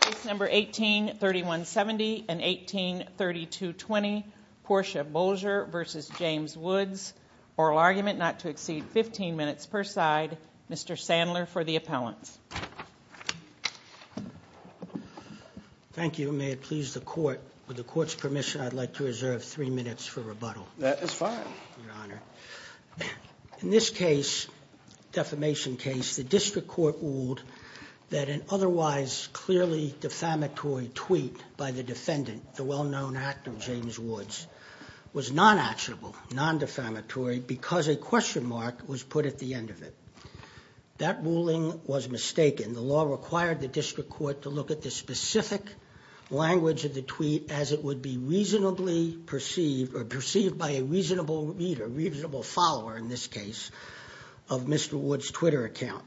Case No. 18-3170 and 18-3220, Portia Boulger v. James Woods. Oral argument not to exceed 15 minutes per side. Mr. Sandler for the appellants. Thank you. May it please the Court, with the Court's permission, I'd like to reserve three minutes for rebuttal. That is fine. Your Honor, in this case, defamation case, the district court ruled that an otherwise clearly defamatory tweet by the defendant, the well-known actor James Woods, was non-actionable, non-defamatory, because a question mark was put at the end of it. That ruling was mistaken. The law required the district court to look at the specific language of the tweet as it would be reasonably perceived, or perceived by a reasonable reader, reasonable follower in this case, of Mr. Woods' Twitter account.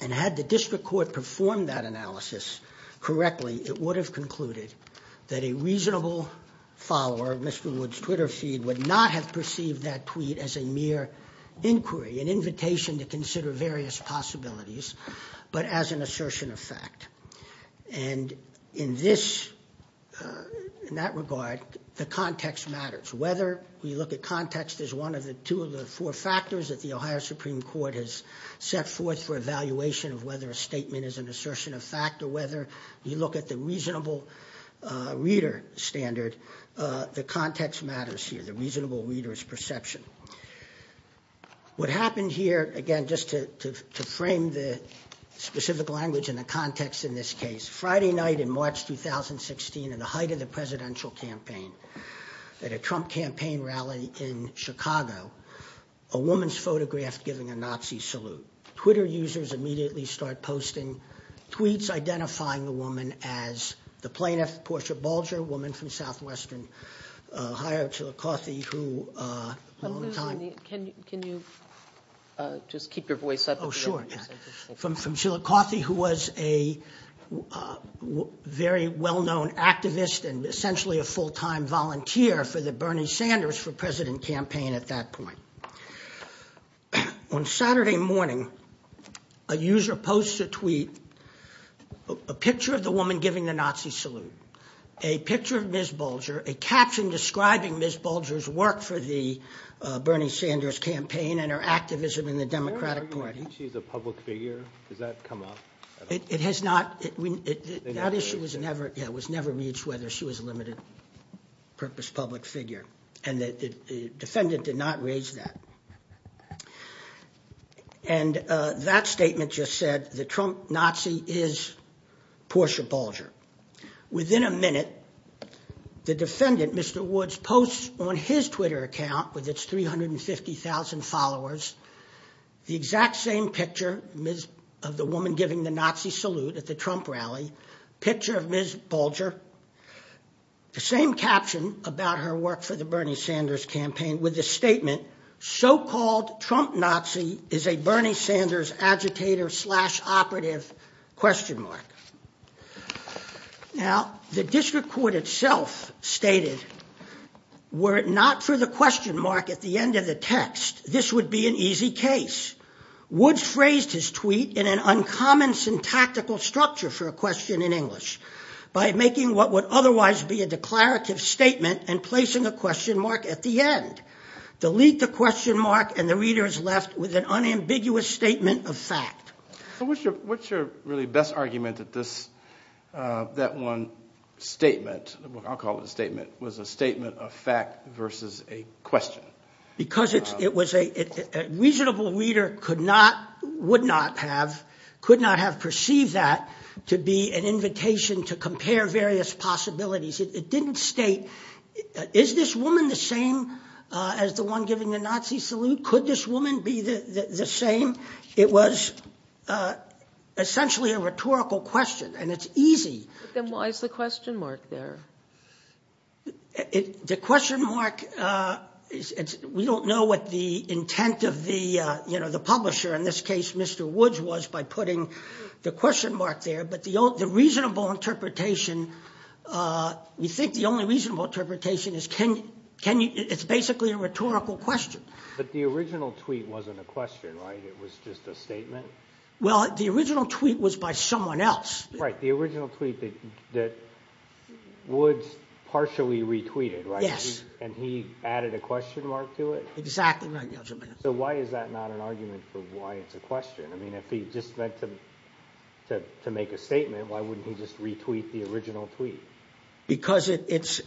And had the district court performed that analysis correctly, it would have concluded that a reasonable follower of Mr. Woods' Twitter feed would not have perceived that tweet as a mere inquiry, an invitation to consider various possibilities, but as an assertion of fact. And in this, in that regard, the context matters. Whether we look at context as one of the two of the four factors that the Ohio Supreme Court has set forth for evaluation of whether a statement is an assertion of fact, or whether you look at the reasonable reader standard, the context matters here, the reasonable reader's perception. What happened here, again, just to frame the specific language and the context in this case, Friday night in March 2016, at the height of the presidential campaign, at a Trump campaign rally in Chicago, a woman's photographed giving a Nazi salute. Twitter users immediately start posting tweets identifying the woman as the plaintiff, Portia Bulger, a woman from southwestern Ohio, Chilacothe, who a long time- Can you just keep your voice up? Oh, sure. From Chilacothe, who was a very well-known activist and essentially a full-time volunteer for the Bernie Sanders for president campaign at that point. On Saturday morning, a user posts a tweet, a picture of the woman giving the Nazi salute, a picture of Ms. Bulger, a caption describing Ms. Bulger's work for the Bernie Sanders campaign and her activism in the Democratic Party. Are you arguing that she's a public figure? Does that come up? It has not. That issue was never reached, whether she was a limited-purpose public figure, and the defendant did not raise that. And that statement just said, the Trump Nazi is Portia Bulger. Within a minute, the defendant, Mr. Woods, posts on his Twitter account, with its 350,000 followers, the exact same picture of the woman giving the Nazi salute at the Trump rally, picture of Ms. Bulger, the same caption about her work for the Bernie Sanders campaign with the statement, so-called Trump Nazi is a Bernie Sanders agitator slash operative question mark. Now, the district court itself stated, were it not for the question mark at the end of the text, this would be an easy case. Woods phrased his tweet in an uncommon syntactical structure for a question in English by making what would otherwise be a declarative statement and placing a question mark at the end. Delete the question mark, and the reader is left with an unambiguous statement of fact. What's your really best argument that this, that one statement, I'll call it a statement, was a statement of fact versus a question? Because it was a reasonable reader could not, would not have, could not have perceived that to be an invitation to compare various possibilities. It didn't state, is this woman the same as the one giving the Nazi salute? Could this woman be the same? It was essentially a rhetorical question, and it's easy. Then why is the question mark there? The question mark, we don't know what the intent of the publisher, in this case Mr. Woods, was by putting the question mark there. But the reasonable interpretation, we think the only reasonable interpretation is it's basically a rhetorical question. But the original tweet wasn't a question, right? It was just a statement? Well, the original tweet was by someone else. Right, the original tweet that Woods partially retweeted, right? Yes. And he added a question mark to it? Exactly right. So why is that not an argument for why it's a question? I mean, if he just meant to make a statement, why wouldn't he just retweet the original tweet? Because it's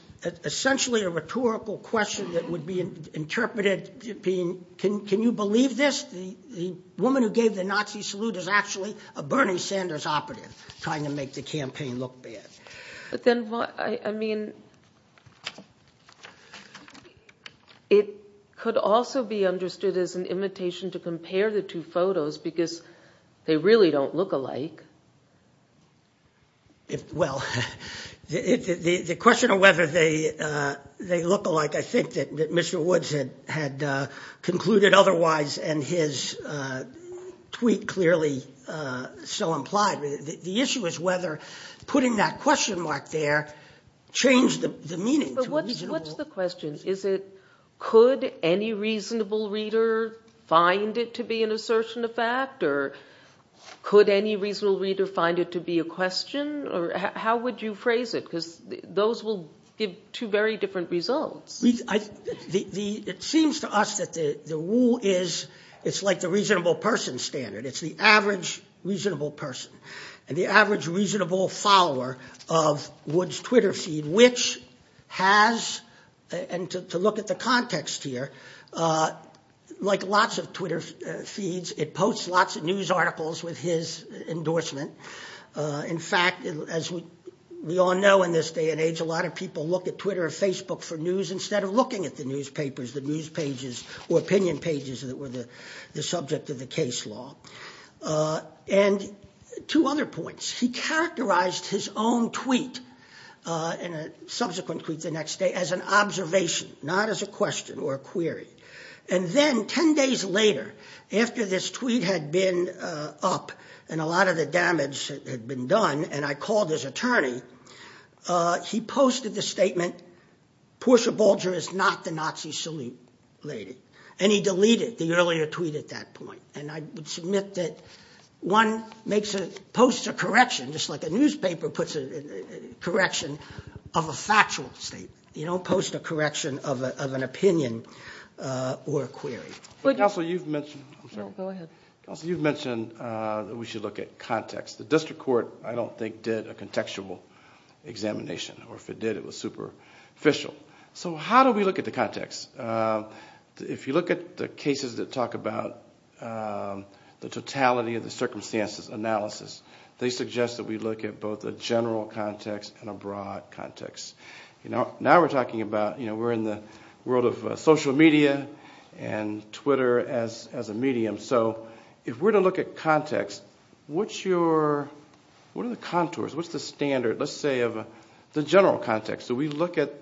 essentially a rhetorical question that would be interpreted being, can you believe this? The woman who gave the Nazi salute is actually a Bernie Sanders operative trying to make the campaign look bad. But then, I mean, it could also be understood as an imitation to compare the two photos because they really don't look alike. Well, the question of whether they look alike, I think that Mr. Woods had concluded otherwise and his tweet clearly so implied. The issue is whether putting that question mark there changed the meaning. But what's the question? Is it, could any reasonable reader find it to be an assertion of fact? Or could any reasonable reader find it to be a question? Or how would you phrase it? Because those will give two very different results. It seems to us that the rule is, it's like the reasonable person standard. It's the average reasonable person and the average reasonable follower of Woods' Twitter feed, which has, and to look at the context here, like lots of Twitter feeds, it posts lots of news articles with his endorsement. In fact, as we all know in this day and age, a lot of people look at Twitter or Facebook for news instead of looking at the newspapers, the news pages or opinion pages that were the subject of the case law. And two other points. He characterized his own tweet and a subsequent tweet the next day as an observation, not as a question or a query. And then 10 days later, after this tweet had been up and a lot of the damage had been done and I called his attorney, he posted the statement, Portia Bulger is not the Nazi salute lady. And he deleted the earlier tweet at that point. And I would submit that one posts a correction, just like a newspaper puts a correction of a factual statement. You don't post a correction of an opinion or a query. Counsel, you've mentioned that we should look at context. The district court, I don't think, did a contextual examination. Or if it did, it was superficial. So how do we look at the context? If you look at the cases that talk about the totality of the circumstances analysis, they suggest that we look at both a general context and a broad context. Now we're talking about, you know, we're in the world of social media and Twitter as a medium. So if we're to look at context, what are the contours? What's the standard, let's say, of the general context? Do we look at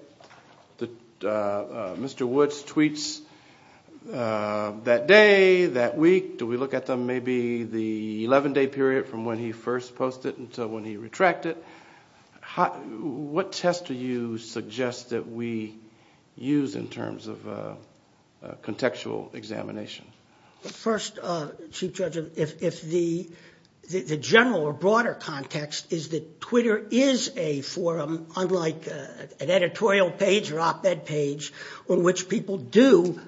Mr. Woods' tweets that day, that week? Do we look at them maybe the 11-day period from when he first posted until when he retracted? What test do you suggest that we use in terms of contextual examination? First, Chief Judge, if the general or broader context is that Twitter is a forum, unlike an editorial page or op-ed page on which people do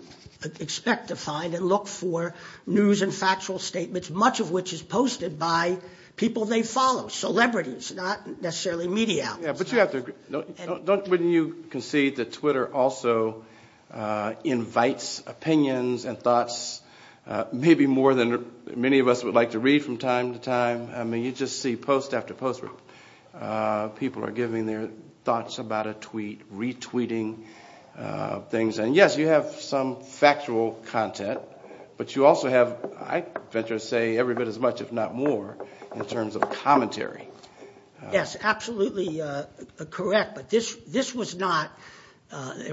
expect to find and look for news and factual statements, much of which is posted by people they follow, celebrities, not necessarily media. But wouldn't you concede that Twitter also invites opinions and thoughts maybe more than many of us would like to read from time to time? I mean, you just see post after post where people are giving their thoughts about a tweet, retweeting things. And, yes, you have some factual content, but you also have, I venture to say, every bit as much, if not more, in terms of commentary. Yes, absolutely correct. But this was not –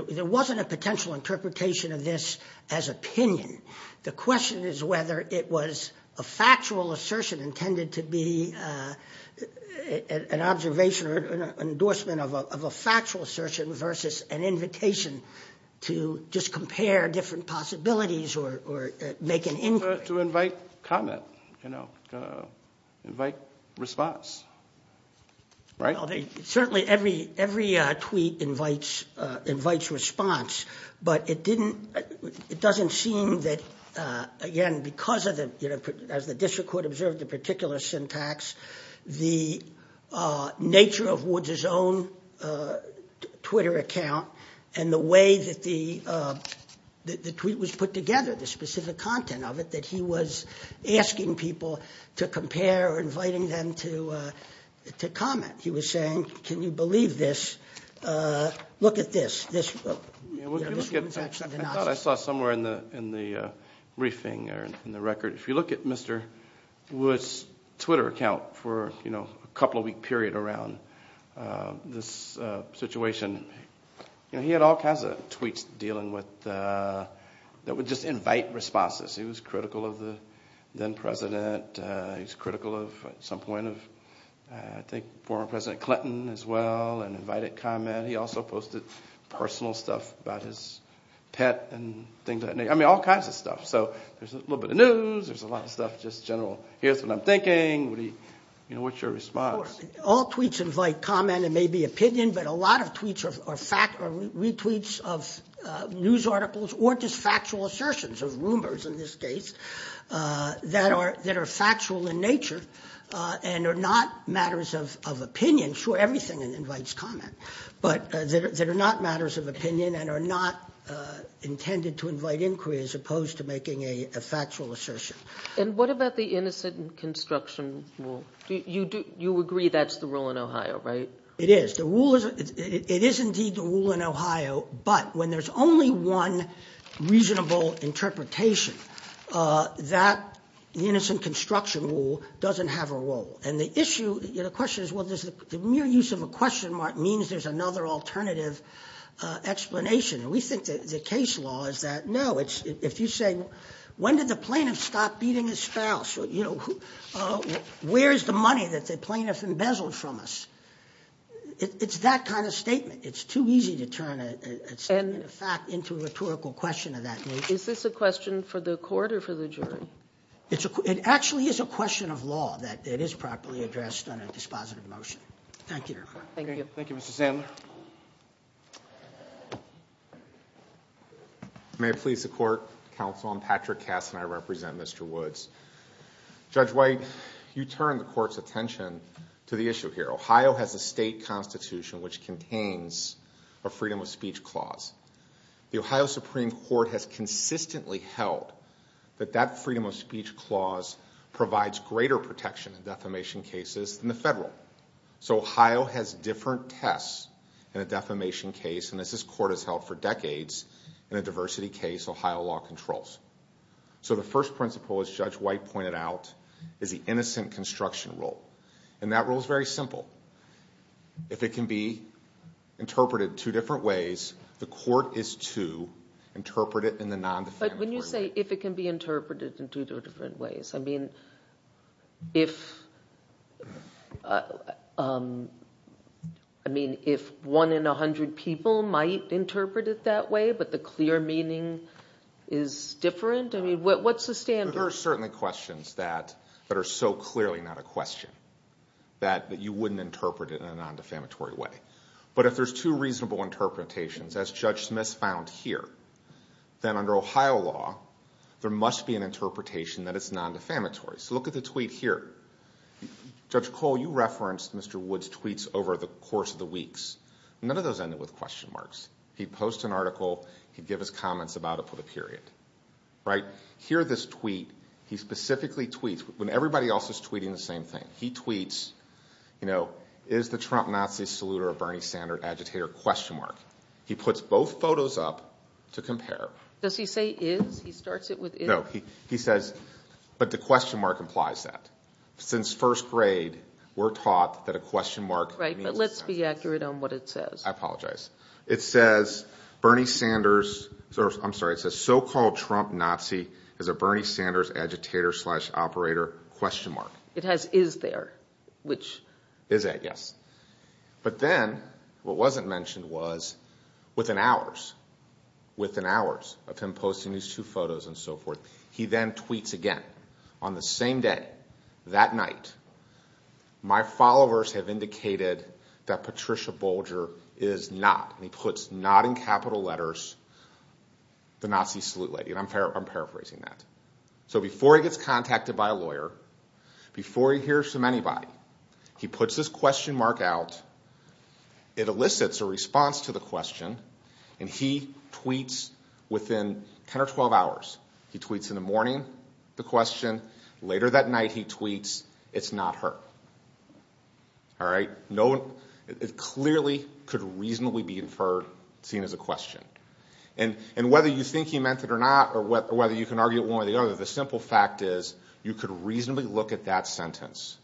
there wasn't a potential interpretation of this as opinion. The question is whether it was a factual assertion intended to be an observation or an endorsement of a factual assertion versus an invitation to just compare different possibilities or make an inquiry. To invite comment, you know, invite response, right? Well, certainly every tweet invites response, but it didn't – it doesn't seem that, again, because of the – as the district court observed the particular syntax, the nature of Woods' own Twitter account and the way that the tweet was put together, the specific content of it, that he was asking people to compare or inviting them to comment. He was saying, can you believe this? Look at this. I thought I saw somewhere in the briefing or in the record. If you look at Mr. Woods' Twitter account for a couple of week period around this situation, he had all kinds of tweets dealing with – that would just invite responses. He was critical of the then president. He was critical of at some point of I think former President Clinton as well and invited comment. He also posted personal stuff about his pet and things like that. I mean, all kinds of stuff. So there's a little bit of news. There's a lot of stuff just general here's what I'm thinking. What's your response? All tweets invite comment and maybe opinion, but a lot of tweets are retweets of news articles or just factual assertions of rumors in this case that are factual in nature and are not matters of opinion. Sure, everything invites comment, but they're not matters of opinion and are not intended to invite inquiry as opposed to making a factual assertion. And what about the innocent construction rule? You agree that's the rule in Ohio, right? It is. It is indeed the rule in Ohio, but when there's only one reasonable interpretation, that innocent construction rule doesn't have a role. And the issue, the question is, well, the mere use of a question mark means there's another alternative explanation. We think the case law is that, no, if you say, when did the plaintiff stop beating his spouse? Where is the money that the plaintiff embezzled from us? It's that kind of statement. It's too easy to turn a statement of fact into a rhetorical question of that nature. It actually is a question of law that it is properly addressed on a dispositive motion. Thank you, Your Honor. Thank you, Mr. Sandler. May it please the court, counsel, I'm Patrick Kass, and I represent Mr. Woods. Judge White, you turn the court's attention to the issue here. Ohio has a state constitution which contains a freedom of speech clause. The Ohio Supreme Court has consistently held that that freedom of speech clause provides greater protection in defamation cases than the federal. So Ohio has different tests in a defamation case, and as this court has held for decades, in a diversity case, Ohio law controls. So the first principle, as Judge White pointed out, is the innocent construction rule. And that rule is very simple. If it can be interpreted two different ways, the court is to interpret it in the non-defamatory way. But when you say if it can be interpreted in two different ways, I mean, if one in a hundred people might interpret it that way, but the clear meaning is different? I mean, what's the standard? There are certainly questions that are so clearly not a question that you wouldn't interpret it in a non-defamatory way. But if there's two reasonable interpretations, as Judge Smith found here, then under Ohio law, there must be an interpretation that it's non-defamatory. So look at the tweet here. Judge Cole, you referenced Mr. Woods' tweets over the course of the weeks. None of those ended with question marks. He'd post an article. He'd give his comments about it for the period. Here, this tweet, he specifically tweets when everybody else is tweeting the same thing. He tweets, you know, is the Trump Nazi saluter a Bernie Sanders agitator? He puts both photos up to compare. Does he say is? He starts it with is? No. He says, but the question mark implies that. Since first grade, we're taught that a question mark means it's not. Right, but let's be accurate on what it says. I apologize. It says Bernie Sanders, I'm sorry, it says so-called Trump Nazi is a Bernie Sanders agitator slash operator question mark. It has is there, which. Is that, yes. But then what wasn't mentioned was within hours, within hours of him posting these two photos and so forth, he then tweets again. On the same day, that night, my followers have indicated that Patricia Bolger is not, and he puts not in capital letters, the Nazi salute lady, and I'm paraphrasing that. So before he gets contacted by a lawyer, before he hears from anybody, he puts this question mark out. It elicits a response to the question, and he tweets within 10 or 12 hours. He tweets in the morning, the question. Later that night, he tweets, it's not her. All right, no one, it clearly could reasonably be inferred, seen as a question. And whether you think he meant it or not, or whether you can argue it one way or the other, the simple fact is you could reasonably look at that sentence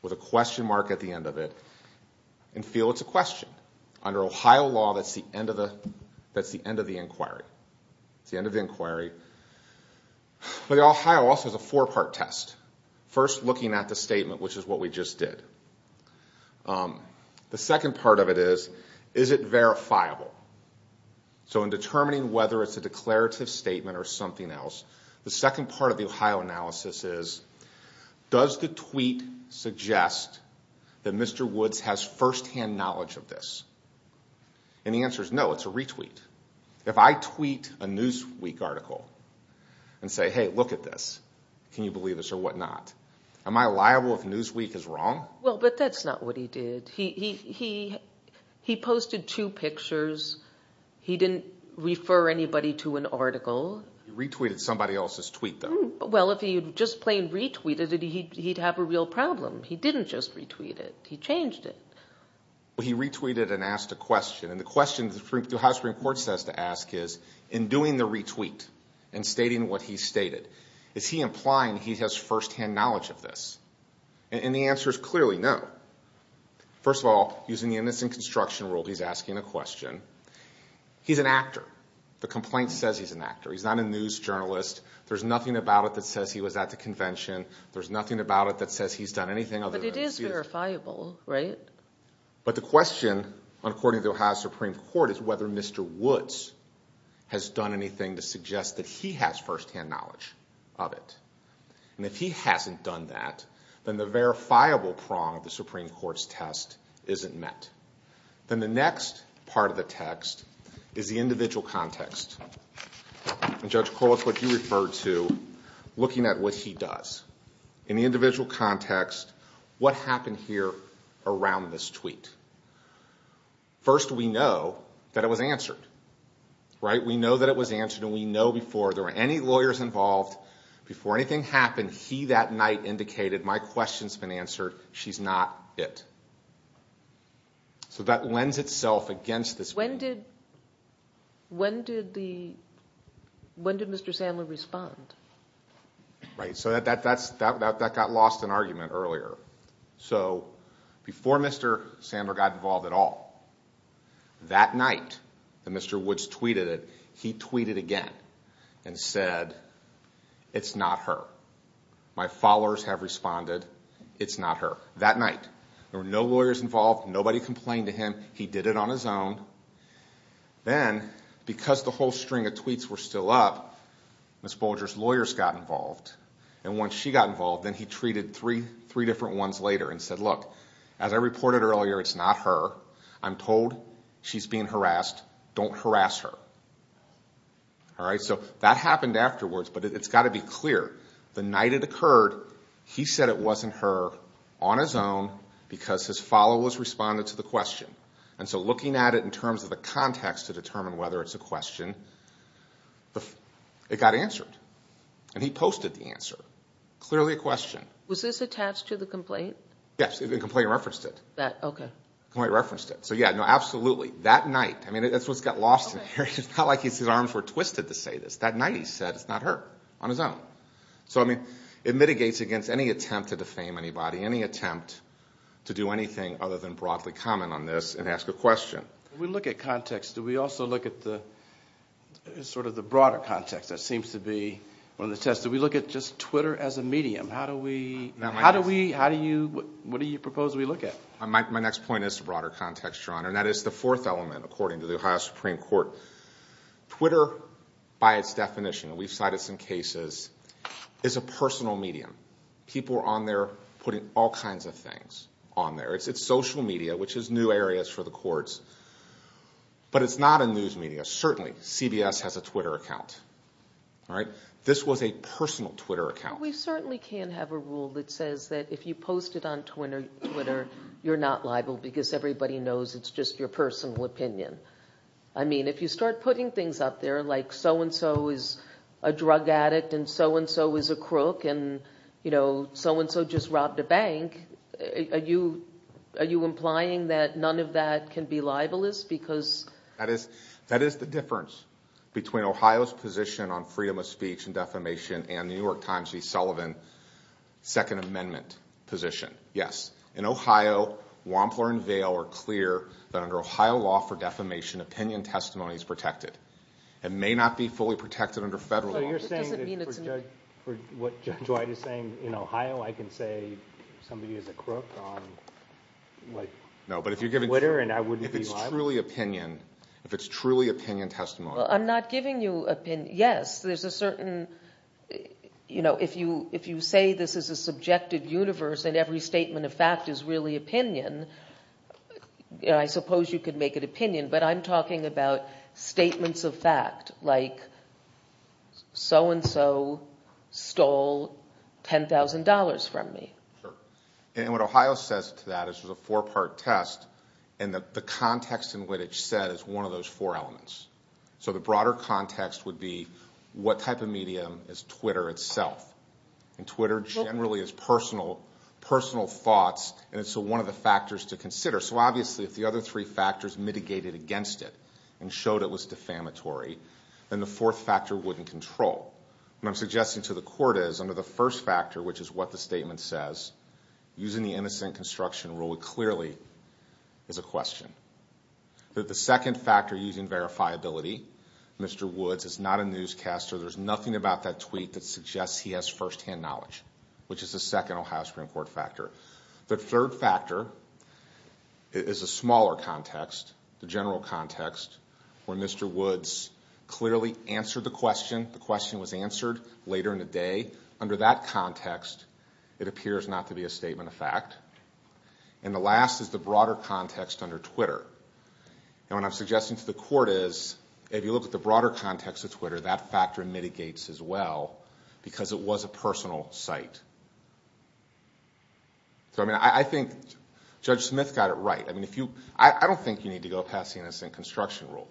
with a question mark at the end of it and feel it's a question. Under Ohio law, that's the end of the inquiry. It's the end of the inquiry. But Ohio also has a four-part test. First, looking at the statement, which is what we just did. The second part of it is, is it verifiable? So in determining whether it's a declarative statement or something else, the second part of the Ohio analysis is, does the tweet suggest that Mr. Woods has firsthand knowledge of this? And the answer is no, it's a retweet. If I tweet a Newsweek article and say, hey, look at this, can you believe this or whatnot, am I liable if Newsweek is wrong? Well, but that's not what he did. He posted two pictures. He didn't refer anybody to an article. He retweeted somebody else's tweet, though. Well, if he had just plain retweeted it, he'd have a real problem. He didn't just retweet it. He changed it. He retweeted and asked a question, and the question the Ohio Supreme Court says to ask is, in doing the retweet and stating what he stated, is he implying he has firsthand knowledge of this? And the answer is clearly no. First of all, using the innocent construction rule, he's asking a question. He's an actor. The complaint says he's an actor. He's not a news journalist. There's nothing about it that says he was at the convention. There's nothing about it that says he's done anything other than see this. But it is verifiable, right? But the question, according to the Ohio Supreme Court, is whether Mr. Woods has done anything to suggest that he has firsthand knowledge of it. And if he hasn't done that, then the verifiable prong of the Supreme Court's test isn't met. Then the next part of the text is the individual context. And, Judge Corliss, what you referred to, looking at what he does. In the individual context, what happened here around this tweet? First, we know that it was answered, right? We know that it was answered, and we know before there were any lawyers involved, before anything happened, he, that night, indicated my question's been answered. She's not it. So that lends itself against this. When did Mr. Sandler respond? Right, so that got lost in argument earlier. So before Mr. Sandler got involved at all, that night that Mr. Woods tweeted it, he tweeted again and said, it's not her. My followers have responded, it's not her. That night. There were no lawyers involved. Nobody complained to him. He did it on his own. Then, because the whole string of tweets were still up, Ms. Bolger's lawyers got involved. And once she got involved, then he tweeted three different ones later and said, look, as I reported earlier, it's not her. I'm told she's being harassed. Don't harass her. All right, so that happened afterwards, but it's got to be clear. The night it occurred, he said it wasn't her on his own because his followers responded to the question. And so looking at it in terms of the context to determine whether it's a question, it got answered. And he posted the answer. Clearly a question. Was this attached to the complaint? Yes, the complaint referenced it. Okay. Complaint referenced it. So, yeah, no, absolutely. That night. I mean, that's what got lost in there. It's not like his arms were twisted to say this. That night he said it's not her on his own. So, I mean, it mitigates against any attempt to defame anybody, any attempt to do anything other than broadly comment on this and ask a question. We look at context. We also look at sort of the broader context. That seems to be one of the tests. Do we look at just Twitter as a medium? What do you propose we look at? My next point is the broader context, Your Honor, and that is the fourth element according to the Ohio Supreme Court. Twitter, by its definition, and we've cited some cases, is a personal medium. People are on there putting all kinds of things on there. It's social media, which is new areas for the courts. But it's not a news media. Certainly, CBS has a Twitter account, all right? This was a personal Twitter account. We certainly can't have a rule that says that if you post it on Twitter, you're not liable because everybody knows it's just your personal opinion. I mean, if you start putting things up there like so-and-so is a drug addict and so-and-so is a crook and, you know, so-and-so just robbed a bank, are you implying that none of that can be libelous? That is the difference between Ohio's position on freedom of speech and defamation and the New York Times' V. Sullivan Second Amendment position. Yes, in Ohio, Wampler and Vail are clear that under Ohio law for defamation, opinion testimony is protected. It may not be fully protected under federal law. But you're saying that for what Judge White is saying, in Ohio I can say somebody is a crook on Twitter and I wouldn't be liable? No, but if it's truly opinion, if it's truly opinion testimony. Well, I'm not giving you opinion. Yes, there's a certain, you know, if you say this is a subjective universe and every statement of fact is really opinion, I suppose you could make it opinion. But I'm talking about statements of fact like so-and-so stole $10,000 from me. Sure. And what Ohio says to that is there's a four-part test and that the context in what it said is one of those four elements. So the broader context would be what type of medium is Twitter itself? And Twitter generally is personal thoughts and it's one of the factors to consider. So obviously if the other three factors mitigated against it and showed it was defamatory, then the fourth factor wouldn't control. What I'm suggesting to the court is under the first factor, which is what the statement says, using the innocent construction rule, it clearly is a question. The second factor using verifiability, Mr. Woods is not a newscaster. There's nothing about that tweet that suggests he has firsthand knowledge, which is the second Ohio Supreme Court factor. The third factor is a smaller context, the general context, where Mr. Woods clearly answered the question. The question was answered later in the day. Under that context, it appears not to be a statement of fact. And the last is the broader context under Twitter. And what I'm suggesting to the court is if you look at the broader context of Twitter, that factor mitigates as well because it was a personal site. I think Judge Smith got it right. I don't think you need to go past the innocent construction rule.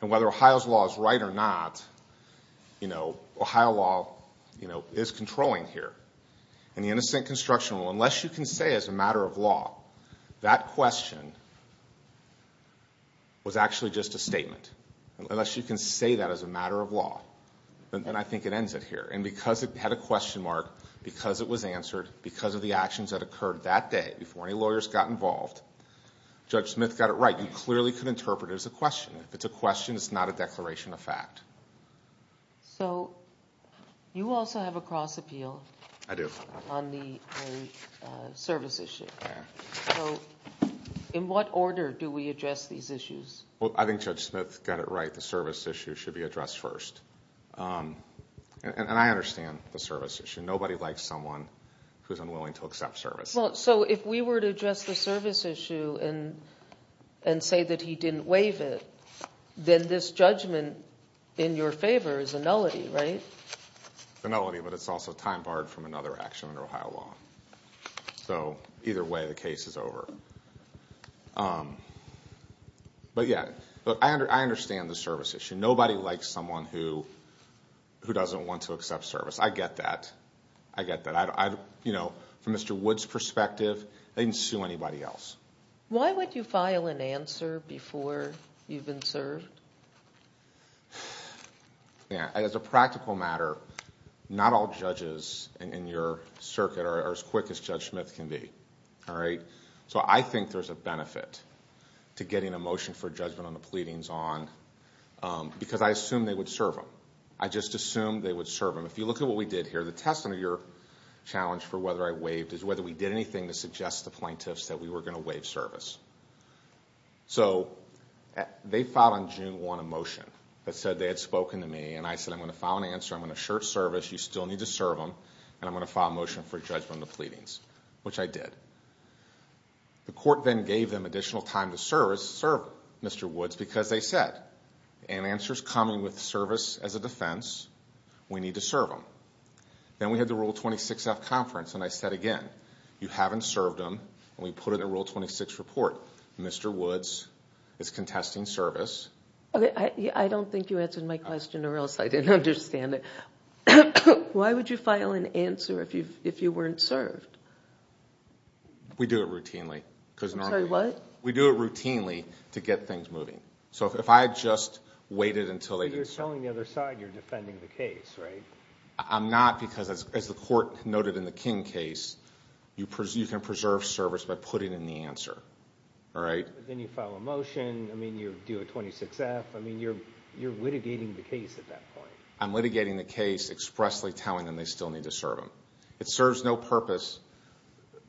And whether Ohio's law is right or not, Ohio law is controlling here. And the innocent construction rule, unless you can say as a matter of law, that question was actually just a statement. Unless you can say that as a matter of law, then I think it ends it here. And because it had a question mark, because it was answered, because of the actions that occurred that day before any lawyers got involved, Judge Smith got it right. You clearly could interpret it as a question. If it's a question, it's not a declaration of fact. So you also have a cross appeal. I do. On the service issue. So in what order do we address these issues? Well, I think Judge Smith got it right. The service issue should be addressed first. And I understand the service issue. Nobody likes someone who's unwilling to accept service. So if we were to address the service issue and say that he didn't waive it, then this judgment in your favor is a nullity, right? It's a nullity, but it's also time barred from another action under Ohio law. So either way, the case is over. But, yeah, I understand the service issue. Nobody likes someone who doesn't want to accept service. I get that. I get that. You know, from Mr. Wood's perspective, they didn't sue anybody else. Why would you file an answer before you've been served? As a practical matter, not all judges in your circuit are as quick as Judge Smith can be. All right? So I think there's a benefit to getting a motion for judgment on the pleadings on, because I assume they would serve him. I just assume they would serve him. If you look at what we did here, the test under your challenge for whether I waived is whether we did anything to suggest to plaintiffs that we were going to waive service. So they filed on June 1 a motion that said they had spoken to me, and I said I'm going to file an answer, I'm going to assert service, you still need to serve him, and I'm going to file a motion for judgment on the pleadings, which I did. The court then gave them additional time to serve Mr. Woods because they said, in answers coming with service as a defense, we need to serve him. Then we had the Rule 26-F conference, and I said again, you haven't served him, and we put it in Rule 26 report. Mr. Woods is contesting service. I don't think you answered my question or else I didn't understand it. Why would you file an answer if you weren't served? We do it routinely. Sorry, what? We do it routinely to get things moving. So if I just waited until they didn't serve him. But you're telling the other side you're defending the case, right? I'm not because, as the court noted in the King case, you can preserve service by putting in the answer. Then you file a motion, I mean, you do a 26-F. I mean, you're litigating the case at that point. I'm litigating the case expressly telling them they still need to serve him. It serves no purpose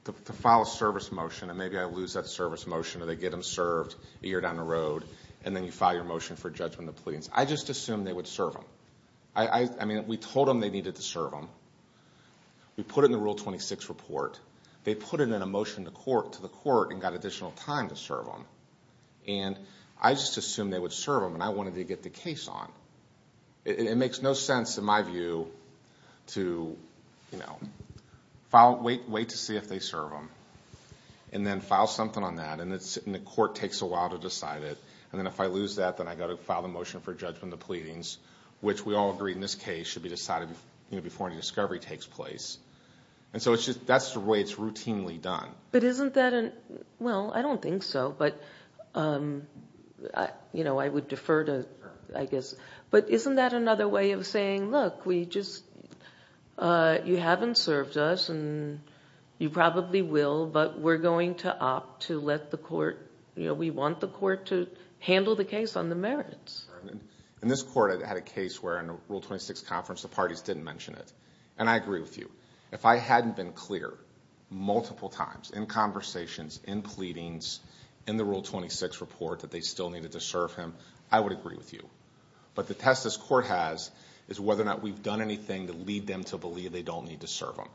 to file a service motion and maybe I lose that service motion or they get him served a year down the road, and then you file your motion for judgment of pleadings. I just assumed they would serve him. I mean, we told them they needed to serve him. We put it in the Rule 26 report. They put it in a motion to the court and got additional time to serve him. And I just assumed they would serve him, and I wanted to get the case on. It makes no sense, in my view, to wait to see if they serve him and then file something on that, and the court takes a while to decide it. And then if I lose that, then I've got to file the motion for judgment of pleadings, which we all agree in this case should be decided before any discovery takes place. And so that's the way it's routinely done. But isn't that a... well, I don't think so, but I would defer to... But isn't that another way of saying, look, we just... you haven't served us, and you probably will, but we're going to opt to let the court... we want the court to handle the case on the merits. In this court, I had a case where in a Rule 26 conference, the parties didn't mention it. And I agree with you. If I hadn't been clear multiple times in conversations, in pleadings, in the Rule 26 report that they still needed to serve him, I would agree with you. But the test this court has is whether or not we've done anything to lead them to believe they don't need to serve him.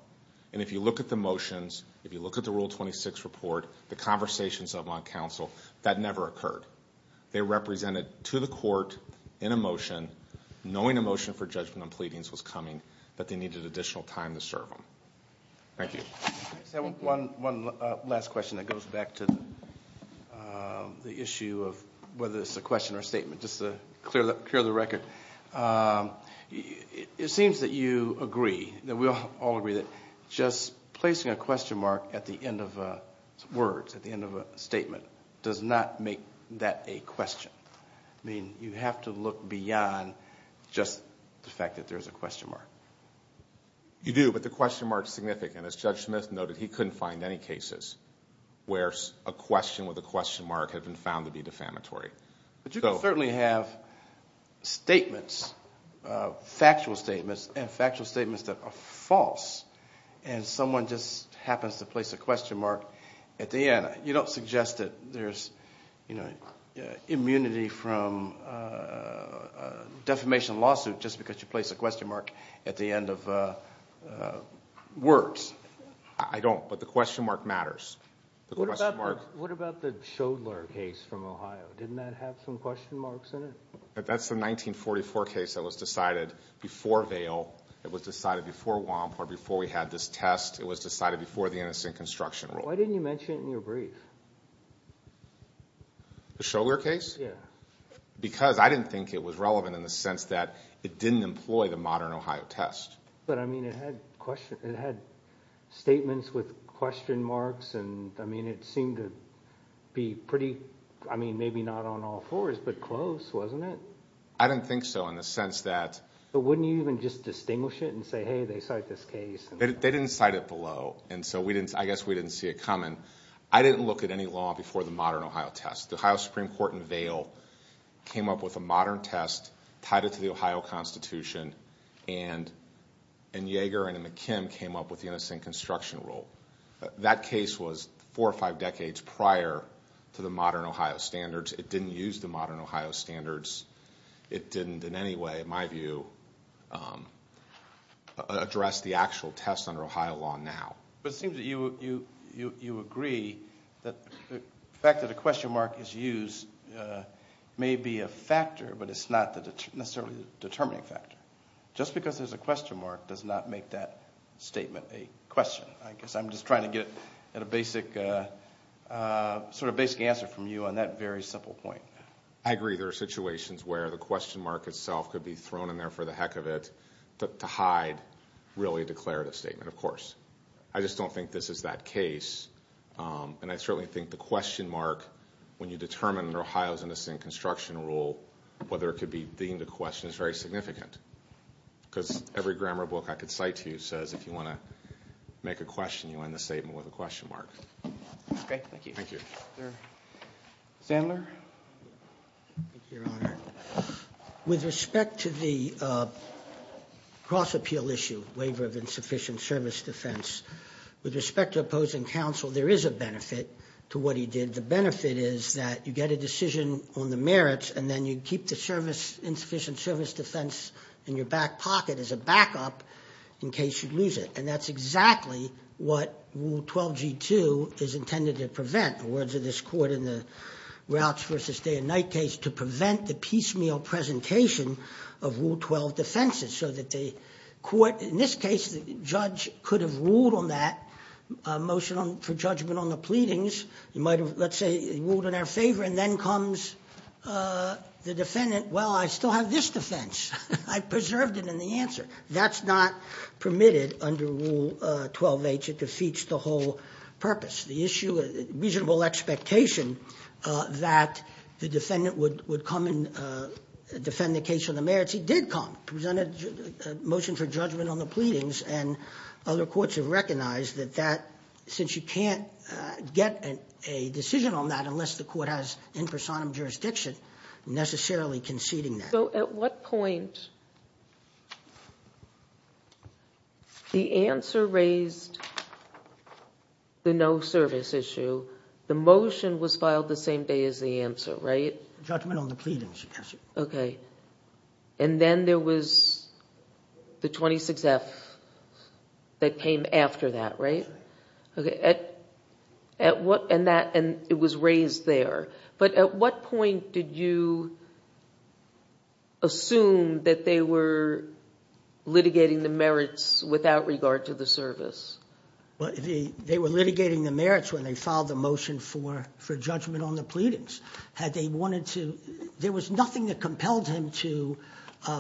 And if you look at the motions, if you look at the Rule 26 report, the conversations up on counsel, that never occurred. They represented to the court in a motion, knowing a motion for judgment on pleadings was coming, but they needed additional time to serve him. Thank you. One last question that goes back to the issue of whether it's a question or a statement, just to clear the record. It seems that you agree, that we all agree, that just placing a question mark at the end of words, at the end of a statement, does not make that a question. I mean, you have to look beyond just the fact that there's a question mark. You do, but the question mark is significant. As Judge Smith noted, he couldn't find any cases where a question with a question mark had been found to be defamatory. But you can certainly have statements, factual statements, and factual statements that are false, and someone just happens to place a question mark at the end. You don't suggest that there's immunity from a defamation lawsuit just because you place a question mark at the end of words. I don't, but the question mark matters. What about the Schoedler case from Ohio? Didn't that have some question marks in it? That's the 1944 case that was decided before Vail. It was decided before WAMP, or before we had this test. It was decided before the innocent construction rule. Why didn't you mention it in your brief? The Schoedler case? Yeah. Because I didn't think it was relevant in the sense that it didn't employ the modern Ohio test. But, I mean, it had statements with question marks, and, I mean, it seemed to be pretty, I mean, maybe not on all fours, but close, wasn't it? I don't think so in the sense that... But wouldn't you even just distinguish it and say, hey, they cite this case? They didn't cite it below, and so I guess we didn't see it coming. I didn't look at any law before the modern Ohio test. The Ohio Supreme Court in Vail came up with a modern test, tied it to the Ohio Constitution, and Yeager and McKim came up with the innocent construction rule. That case was four or five decades prior to the modern Ohio standards. It didn't use the modern Ohio standards. It didn't in any way, in my view, address the actual test under Ohio law now. But it seems that you agree that the fact that a question mark is used may be a factor, but it's not necessarily the determining factor. Just because there's a question mark does not make that statement a question. I guess I'm just trying to get at a basic, sort of basic answer from you on that very simple point. I agree there are situations where the question mark itself could be thrown in there for the heck of it to hide really a declarative statement, of course. I just don't think this is that case, and I certainly think the question mark, when you determine that Ohio's innocent construction rule, whether it could be deemed a question is very significant because every grammar book I could cite to you says if you want to make a question, you end the statement with a question mark. Okay, thank you. Thank you. Mr. Sandler? Thank you, Your Honor. With respect to the cross-appeal issue, waiver of insufficient service defense, with respect to opposing counsel, there is a benefit to what he did. The benefit is that you get a decision on the merits and then you keep the insufficient service defense in your back pocket as a backup in case you lose it, and that's exactly what Rule 12g2 is intended to prevent. In the words of this court in the Routes v. Day and Night case, to prevent the piecemeal presentation of Rule 12 defenses so that the court, in this case, the judge could have ruled on that, motion for judgment on the pleadings. He might have, let's say, ruled in our favor, and then comes the defendant, well, I still have this defense. I preserved it in the answer. That's not permitted under Rule 12h. It defeats the whole purpose. The issue of reasonable expectation that the defendant would come and defend the case on the merits. He did come, presented a motion for judgment on the pleadings, and other courts have recognized that that, since you can't get a decision on that unless the court has in personam jurisdiction necessarily conceding that. So at what point? The answer raised the no service issue. The motion was filed the same day as the answer, right? Judgment on the pleadings, yes. Okay. And then there was the 26F that came after that, right? That's right. And it was raised there. But at what point did you assume that they were litigating the merits without regard to the service? They were litigating the merits when they filed the motion for judgment on the pleadings. There was nothing that compelled him to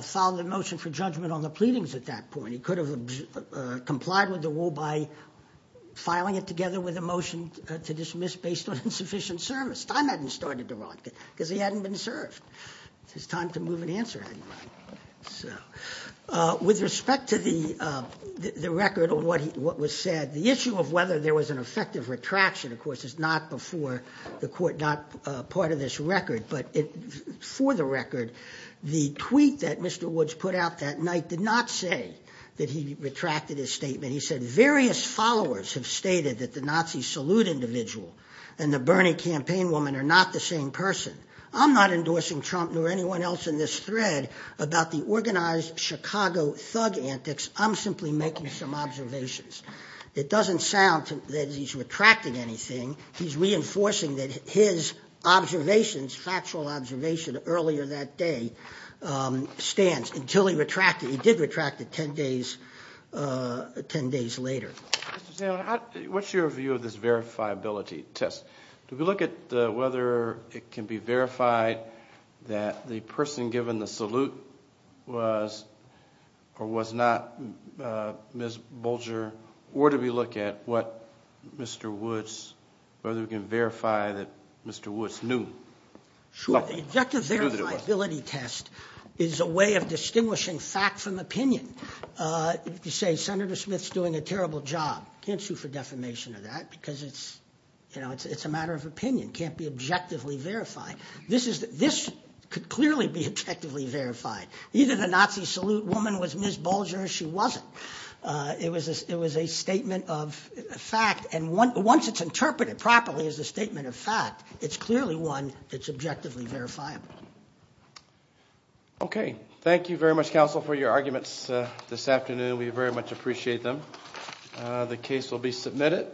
file the motion for judgment on the pleadings at that point. He could have complied with the rule by filing it together with a motion to dismiss based on insufficient service. His time hadn't started to run because he hadn't been served. His time to move and answer hadn't run. So with respect to the record of what was said, the issue of whether there was an effective retraction, of course, is not before the court, not part of this record. But for the record, the tweet that Mr. Woods put out that night did not say that he retracted his statement. He said various followers have stated that the Nazi salute individual and the Bernie campaign woman are not the same person. I'm not endorsing Trump nor anyone else in this thread about the organized Chicago thug antics. I'm simply making some observations. It doesn't sound that he's retracting anything. He's reinforcing that his observations, factual observation earlier that day, stands until he retracted. He did retract it 10 days later. Mr. Sandlin, what's your view of this verifiability test? Do we look at whether it can be verified that the person given the salute was or was not Ms. Bolger, or do we look at whether we can verify that Mr. Woods knew? Sure. The objective verifiability test is a way of distinguishing fact from opinion. If you say Senator Smith's doing a terrible job, you can't shoot for defamation of that because it's a matter of opinion. It can't be objectively verified. This could clearly be objectively verified. Either the Nazi salute woman was Ms. Bolger or she wasn't. It was a statement of fact, and once it's interpreted properly as a statement of fact, it's clearly one that's objectively verifiable. Okay. Thank you very much, counsel, for your arguments this afternoon. We very much appreciate them. The case will be submitted.